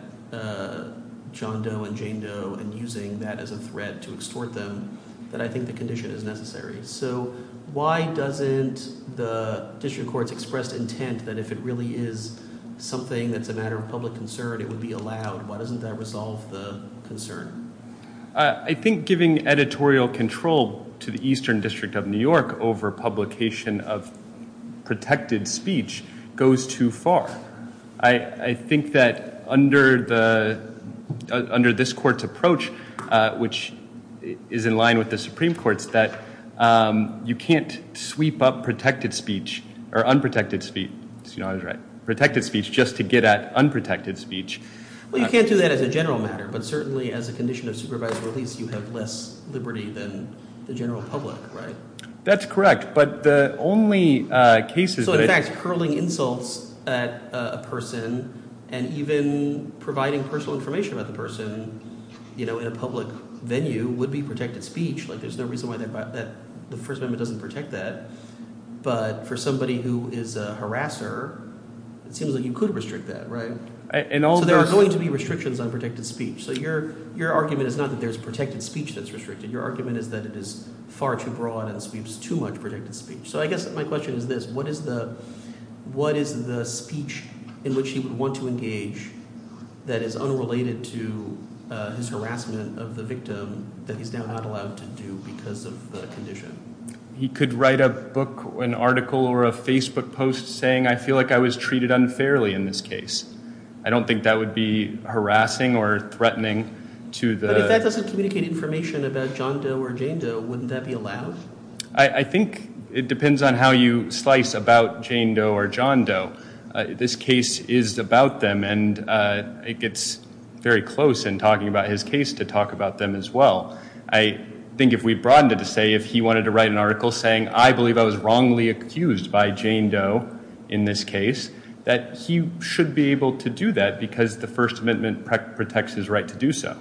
John Doe and Jane Doe and using that as a threat to extort them that I think the condition is necessary. So why doesn't the district court's expressed intent that if it really is something that's a matter of public concern, it would be allowed? Why doesn't that resolve the concern? I think giving editorial control to the Eastern District of New York over publication of protected speech goes too far. I think that under this court's approach, which is in line with the Supreme Court's, that you can't sweep up protected speech or unprotected speech. I was right. Protected speech just to get at unprotected speech. Well, you can't do that as a general matter. But certainly as a condition of supervised release, you have less liberty than the general public, right? That's correct. So in fact, hurling insults at a person and even providing personal information about the person in a public venue would be protected speech. There's no reason why the First Amendment doesn't protect that. But for somebody who is a harasser, it seems like you could restrict that, right? So there are going to be restrictions on protected speech. So your argument is not that there's protected speech that's restricted. Your argument is that it is far too broad and sweeps too much protected speech. So I guess my question is this. What is the speech in which he would want to engage that is unrelated to his harassment of the victim that he's now not allowed to do because of the condition? He could write a book, an article, or a Facebook post saying, I feel like I was treated unfairly in this case. I don't think that would be harassing or threatening to the— But if that doesn't communicate information about John Doe or Jane Doe, wouldn't that be allowed? I think it depends on how you slice about Jane Doe or John Doe. This case is about them, and it gets very close in talking about his case to talk about them as well. I think if we broadened it to say if he wanted to write an article saying, I believe I was wrongly accused by Jane Doe in this case, that he should be able to do that because the First Amendment protects his right to do so.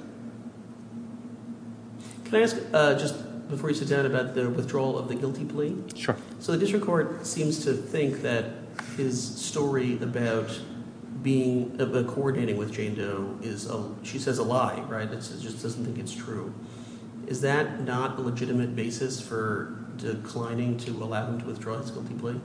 Can I ask just before you sit down about the withdrawal of the guilty plea? Sure. So the district court seems to think that his story about being—about coordinating with Jane Doe is—she says a lie. It just doesn't think it's true. Is that not a legitimate basis for declining to allow him to withdraw his guilty plea?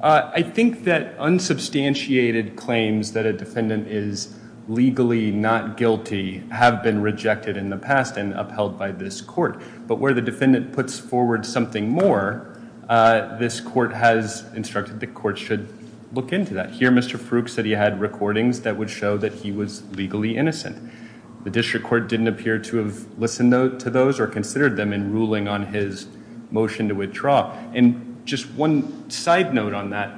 I think that unsubstantiated claims that a defendant is legally not guilty have been rejected in the past and upheld by this court. But where the defendant puts forward something more, this court has instructed the court should look into that. Here, Mr. Fruk said he had recordings that would show that he was legally innocent. The district court didn't appear to have listened to those or considered them in ruling on his motion to withdraw. And just one side note on that,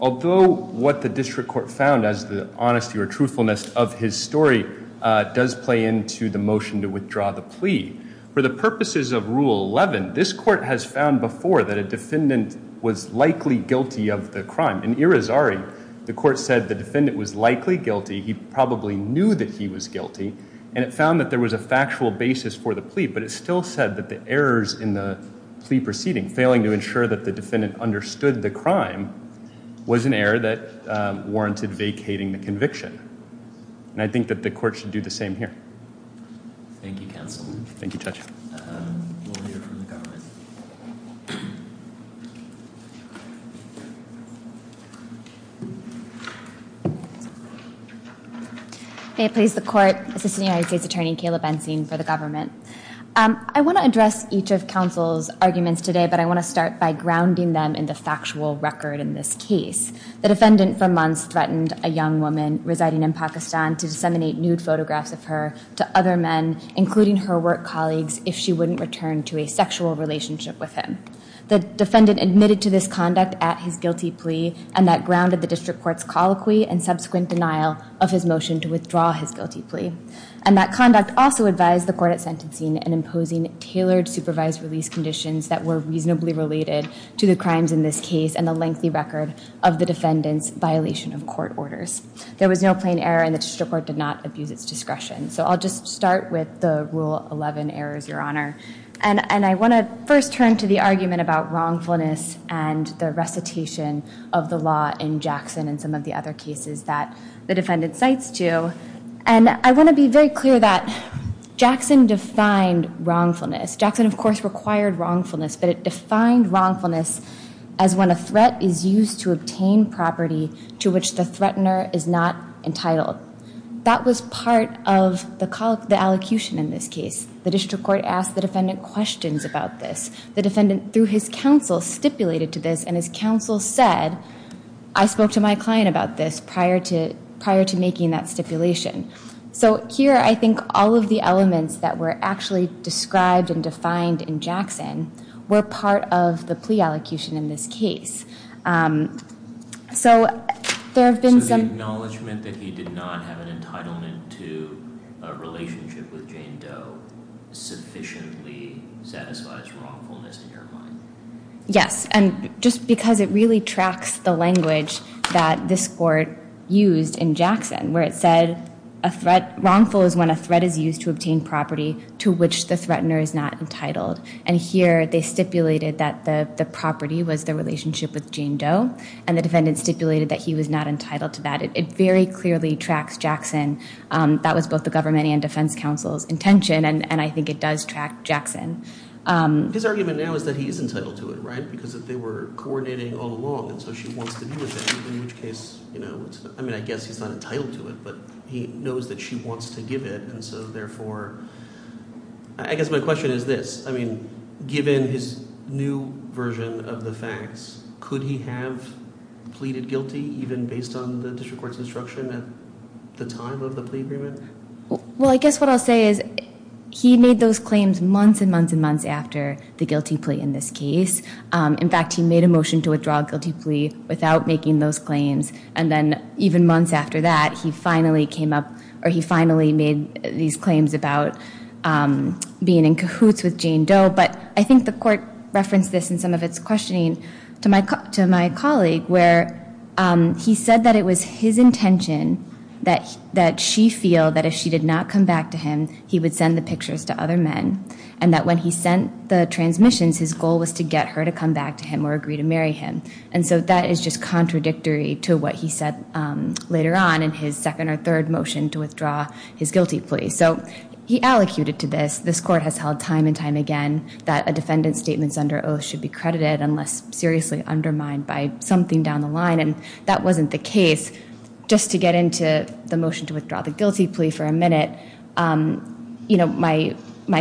although what the district court found as the honesty or truthfulness of his story does play into the motion to withdraw the plea, for the purposes of Rule 11, this court has found before that a defendant was likely guilty of the crime. In Irizarry, the court said the defendant was likely guilty. He probably knew that he was guilty, and it found that there was a factual basis for the plea, but it still said that the errors in the plea proceeding, failing to ensure that the defendant understood the crime, was an error that warranted vacating the conviction. And I think that the court should do the same here. Thank you, counsel. Thank you, Judge. We'll hear from the government. May it please the court. Assistant United States Attorney Kayla Bensing for the government. I want to address each of counsel's arguments today, but I want to start by grounding them in the factual record in this case. The defendant for months threatened a young woman residing in Pakistan to disseminate nude photographs of her to other men, including her work colleagues, if she wouldn't return to a sexual relationship with him. The defendant admitted to this conduct at his guilty plea, and that grounded the district court's colloquy and subsequent denial of his motion to withdraw his guilty plea. And that conduct also advised the court at sentencing in imposing tailored supervised release conditions that were reasonably related to the crimes in this case and the lengthy record of the defendant's violation of court orders. There was no plain error, and the district court did not abuse its discretion. So I'll just start with the Rule 11 errors, Your Honor. And I want to first turn to the argument about wrongfulness and the recitation of the law in Jackson and some of the other cases that the defendant cites, too. And I want to be very clear that Jackson defined wrongfulness. Jackson, of course, required wrongfulness, but it defined wrongfulness as when a threat is used to obtain property to which the threatener is not entitled. That was part of the allocution in this case. The district court asked the defendant questions about this. The defendant, through his counsel, stipulated to this, and his counsel said, I spoke to my client about this prior to making that stipulation. So here I think all of the elements that were actually described and defined in Jackson were part of the plea allocution in this case. So there have been some- So the acknowledgment that he did not have an entitlement to a relationship with Jane Doe sufficiently satisfies wrongfulness in your mind? Yes, and just because it really tracks the language that this court used in Jackson, where it said wrongful is when a threat is used to obtain property to which the threatener is not entitled. And here they stipulated that the property was the relationship with Jane Doe, and the defendant stipulated that he was not entitled to that. It very clearly tracks Jackson. That was both the government and defense counsel's intention, and I think it does track Jackson. His argument now is that he is entitled to it, right, because they were coordinating all along, and so she wants to be with him, in which case it's- I mean, I guess he's not entitled to it, but he knows that she wants to give it, and so therefore, I guess my question is this. I mean, given his new version of the facts, could he have pleaded guilty even based on the district court's instruction at the time of the plea agreement? Well, I guess what I'll say is he made those claims months and months and months after the guilty plea in this case. In fact, he made a motion to withdraw a guilty plea without making those claims, and then even months after that, he finally came up- or he finally made these claims about being in cahoots with Jane Doe, but I think the court referenced this in some of its questioning to my colleague, where he said that it was his intention that she feel that if she did not come back to him, he would send the pictures to other men, and that when he sent the transmissions, his goal was to get her to come back to him or agree to marry him. And so that is just contradictory to what he said later on in his second or third motion to withdraw his guilty plea. So he allocated to this. This court has held time and time again that a defendant's statements under oath should be credited unless seriously undermined by something down the line, and that wasn't the case. Just to get into the motion to withdraw the guilty plea for a minute, my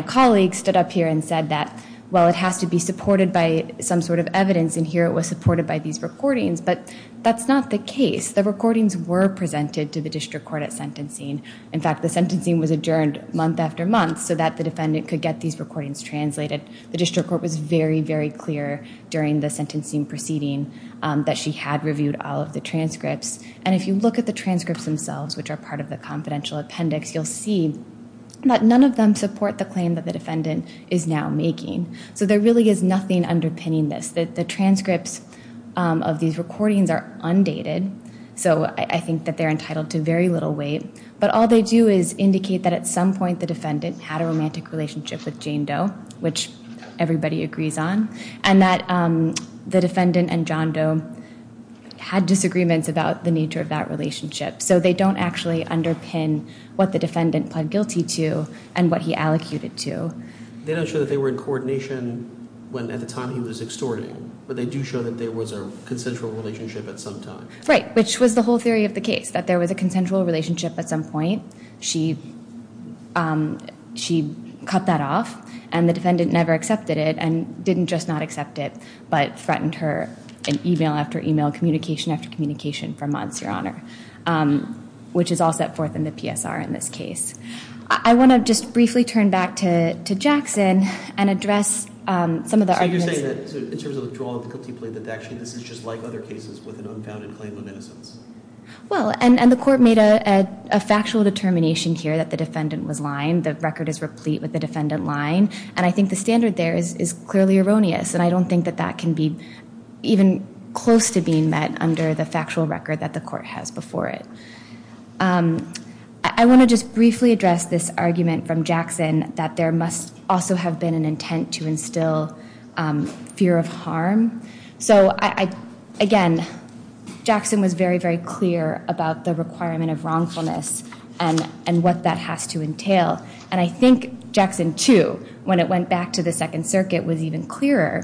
colleague stood up here and said that, well, it has to be supported by some sort of evidence, and here it was supported by these recordings, but that's not the case. The recordings were presented to the district court at sentencing. In fact, the sentencing was adjourned month after month so that the defendant could get these recordings translated. The district court was very, very clear during the sentencing proceeding that she had reviewed all of the transcripts, and if you look at the transcripts themselves, which are part of the confidential appendix, you'll see that none of them support the claim that the defendant is now making. So there really is nothing underpinning this. The transcripts of these recordings are undated, so I think that they're entitled to very little weight, but all they do is indicate that at some point the defendant had a romantic relationship with Jane Doe, which everybody agrees on, and that the defendant and John Doe had disagreements about the nature of that relationship. So they don't actually underpin what the defendant pled guilty to and what he allocated to. They don't show that they were in coordination at the time he was extorting, but they do show that there was a consensual relationship at some time. Right, which was the whole theory of the case, that there was a consensual relationship at some point. She cut that off, and the defendant never accepted it and didn't just not accept it, but threatened her in email after email, communication after communication for months, Your Honor, which is all set forth in the PSR in this case. I want to just briefly turn back to Jackson and address some of the arguments. So you're saying that in terms of the withdrawal of the guilty plea, that actually this is just like other cases with an unfounded claim of innocence? Well, and the court made a factual determination here that the defendant was lying. The record is replete with the defendant lying, and I think the standard there is clearly erroneous, and I don't think that that can be even close to being met under the factual record that the court has before it. I want to just briefly address this argument from Jackson that there must also have been an intent to instill fear of harm. So, again, Jackson was very, very clear about the requirement of wrongfulness and what that has to entail, and I think Jackson, too, when it went back to the Second Circuit, was even clearer.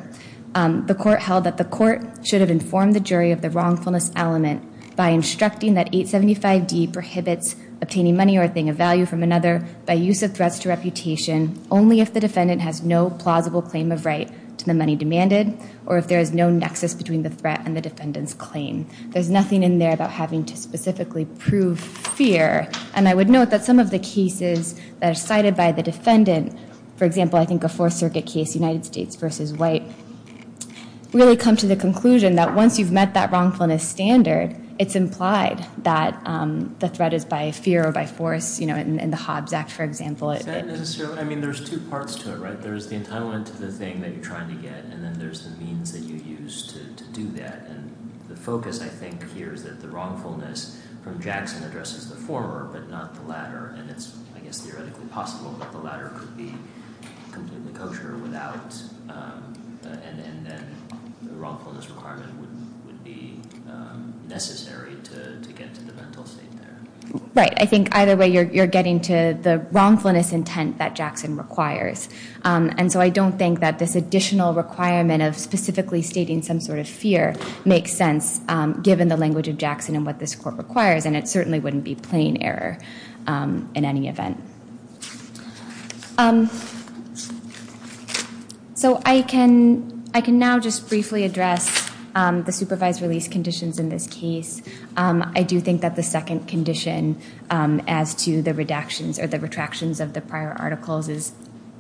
The court held that the court should have informed the jury of the wrongfulness element by instructing that 875D prohibits obtaining money or a thing of value from another by use of threats to reputation only if the defendant has no plausible claim of right to the money demanded or if there is no nexus between the threat and the defendant's claim. There's nothing in there about having to specifically prove fear, and I would note that some of the cases that are cited by the defendant, for example, I think a Fourth Circuit case, United States v. White, really come to the conclusion that once you've met that wrongfulness standard, it's implied that the threat is by fear or by force in the Hobbs Act, for example. Is that necessarily? I mean, there's two parts to it, right? There's the entitlement to the thing that you're trying to get, and then there's the means that you use to do that, and the focus, I think, here is that the wrongfulness from Jackson addresses the former but not the latter, and it's, I guess, theoretically possible that the latter could be completely kosher without, and then the wrongfulness requirement would be necessary to get to the mental state there. Right. I think either way you're getting to the wrongfulness intent that Jackson requires, and so I don't think that this additional requirement of specifically stating some sort of fear makes sense given the language of Jackson and what this court requires, and it certainly wouldn't be plain error. In any event. So I can now just briefly address the supervised release conditions in this case. I do think that the second condition as to the redactions or the retractions of the prior articles is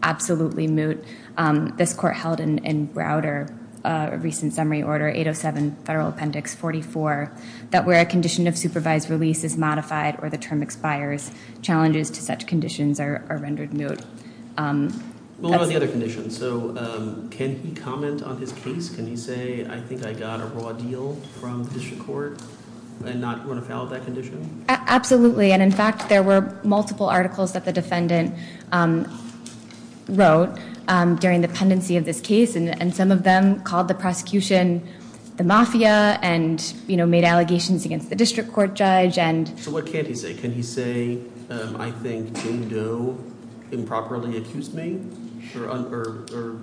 absolutely moot. This court held in Browder a recent summary order, 807 Federal Appendix 44, that where a condition of supervised release is modified or the term expires, challenges to such conditions are rendered moot. What about the other conditions? So can he comment on his case? Can he say, I think I got a raw deal from the district court and not run afoul of that condition? Absolutely, and, in fact, there were multiple articles that the defendant wrote during the pendency of this case, and some of them called the prosecution the mafia and made allegations against the district court judge. So what can't he say? Can he say, I think Jane Doe improperly accused me or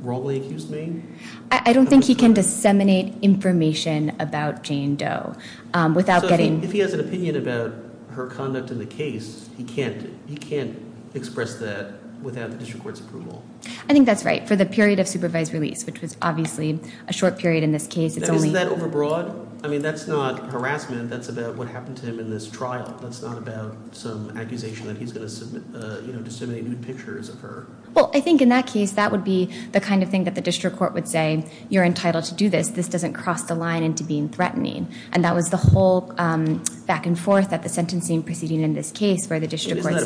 wrongly accused me? I don't think he can disseminate information about Jane Doe. If he has an opinion about her conduct in the case, he can't express that without the district court's approval. I think that's right. For the period of supervised release, which was obviously a short period in this case, it's only- Isn't that overbroad? I mean, that's not harassment. That's about what happened to him in this trial. That's not about some accusation that he's going to disseminate nude pictures of her. Well, I think in that case, that would be the kind of thing that the district court would say, you're entitled to do this. This doesn't cross the line into being threatening. And that was the whole back and forth at the sentencing proceeding in this case where the district court said-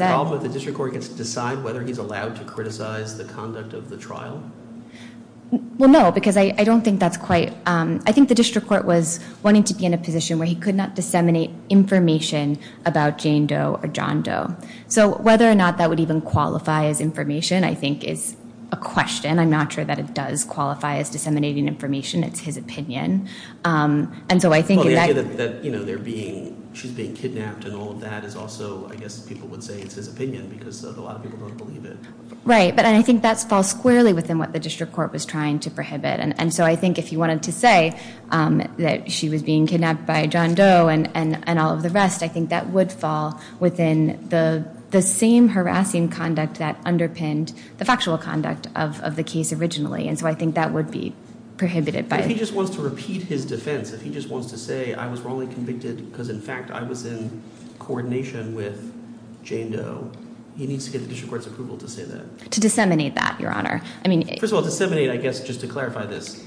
Well, no, because I don't think that's quite- I think the district court was wanting to be in a position where he could not disseminate information about Jane Doe or John Doe. So whether or not that would even qualify as information, I think, is a question. I'm not sure that it does qualify as disseminating information. It's his opinion. And so I think- Well, the idea that she's being kidnapped and all of that is also, I guess, people would say it's his opinion because a lot of people don't believe it. Right, but I think that falls squarely within what the district court was trying to prohibit. And so I think if he wanted to say that she was being kidnapped by John Doe and all of the rest, I think that would fall within the same harassing conduct that underpinned the factual conduct of the case originally. And so I think that would be prohibited by- To disseminate that, Your Honor. First of all, disseminate, I guess, just to clarify this,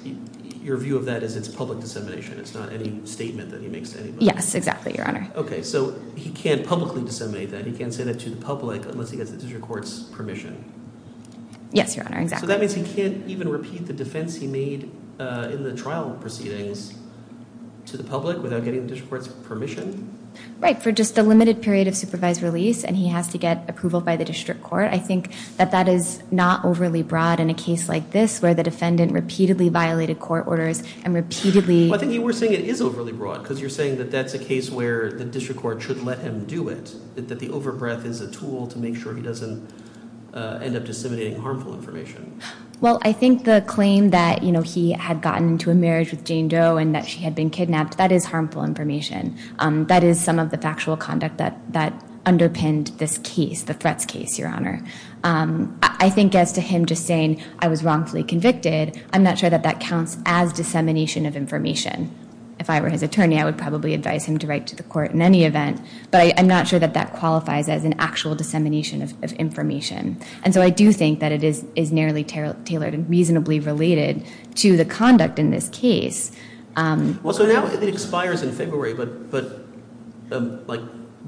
your view of that is it's public dissemination. It's not any statement that he makes to anybody. Yes, exactly, Your Honor. Okay, so he can't publicly disseminate that. He can't say that to the public unless he gets the district court's permission. Yes, Your Honor, exactly. So that means he can't even repeat the defense he made in the trial proceedings to the public without getting the district court's permission? Right, for just a limited period of supervised release and he has to get approval by the district court. I think that that is not overly broad in a case like this where the defendant repeatedly violated court orders and repeatedly- Well, I think you were saying it is overly broad because you're saying that that's a case where the district court should let him do it. That the overbreath is a tool to make sure he doesn't end up disseminating harmful information. Well, I think the claim that he had gotten into a marriage with Jane Doe and that she had been kidnapped, that is harmful information. That is some of the factual conduct that underpinned this case, the Fretz case, Your Honor. I think as to him just saying I was wrongfully convicted, I'm not sure that that counts as dissemination of information. If I were his attorney, I would probably advise him to write to the court in any event, but I'm not sure that that qualifies as an actual dissemination of information. And so I do think that it is narrowly tailored and reasonably related to the conduct in this case. Well, so now it expires in February, but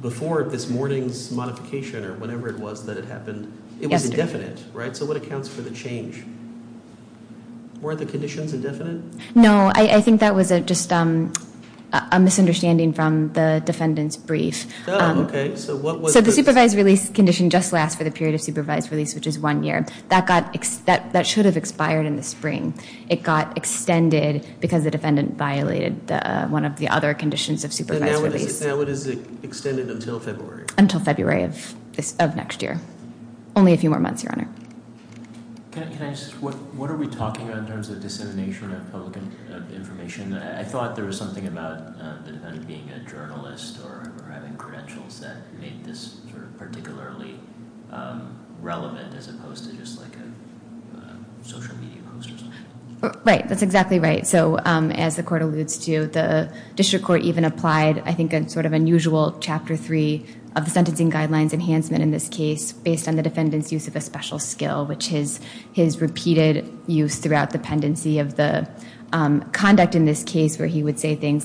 before this morning's modification or whatever it was that it happened, it was indefinite, right? So what accounts for the change? Weren't the conditions indefinite? No, I think that was just a misunderstanding from the defendant's brief. Oh, okay. So what was- This condition just lasts for the period of supervised release, which is one year. That should have expired in the spring. It got extended because the defendant violated one of the other conditions of supervised release. So now it is extended until February? Until February of next year. Only a few more months, Your Honor. Can I ask, what are we talking about in terms of dissemination of public information? I thought there was something about the defendant being a journalist or having credentials that made this particularly relevant as opposed to just like a social media post or something. Right. That's exactly right. So as the court alludes to, the district court even applied, I think, a sort of unusual chapter three of the sentencing guidelines enhancement in this case based on the defendant's use of a special skill, which is his repeated use throughout the pendency of the conduct in this case where he would say things like,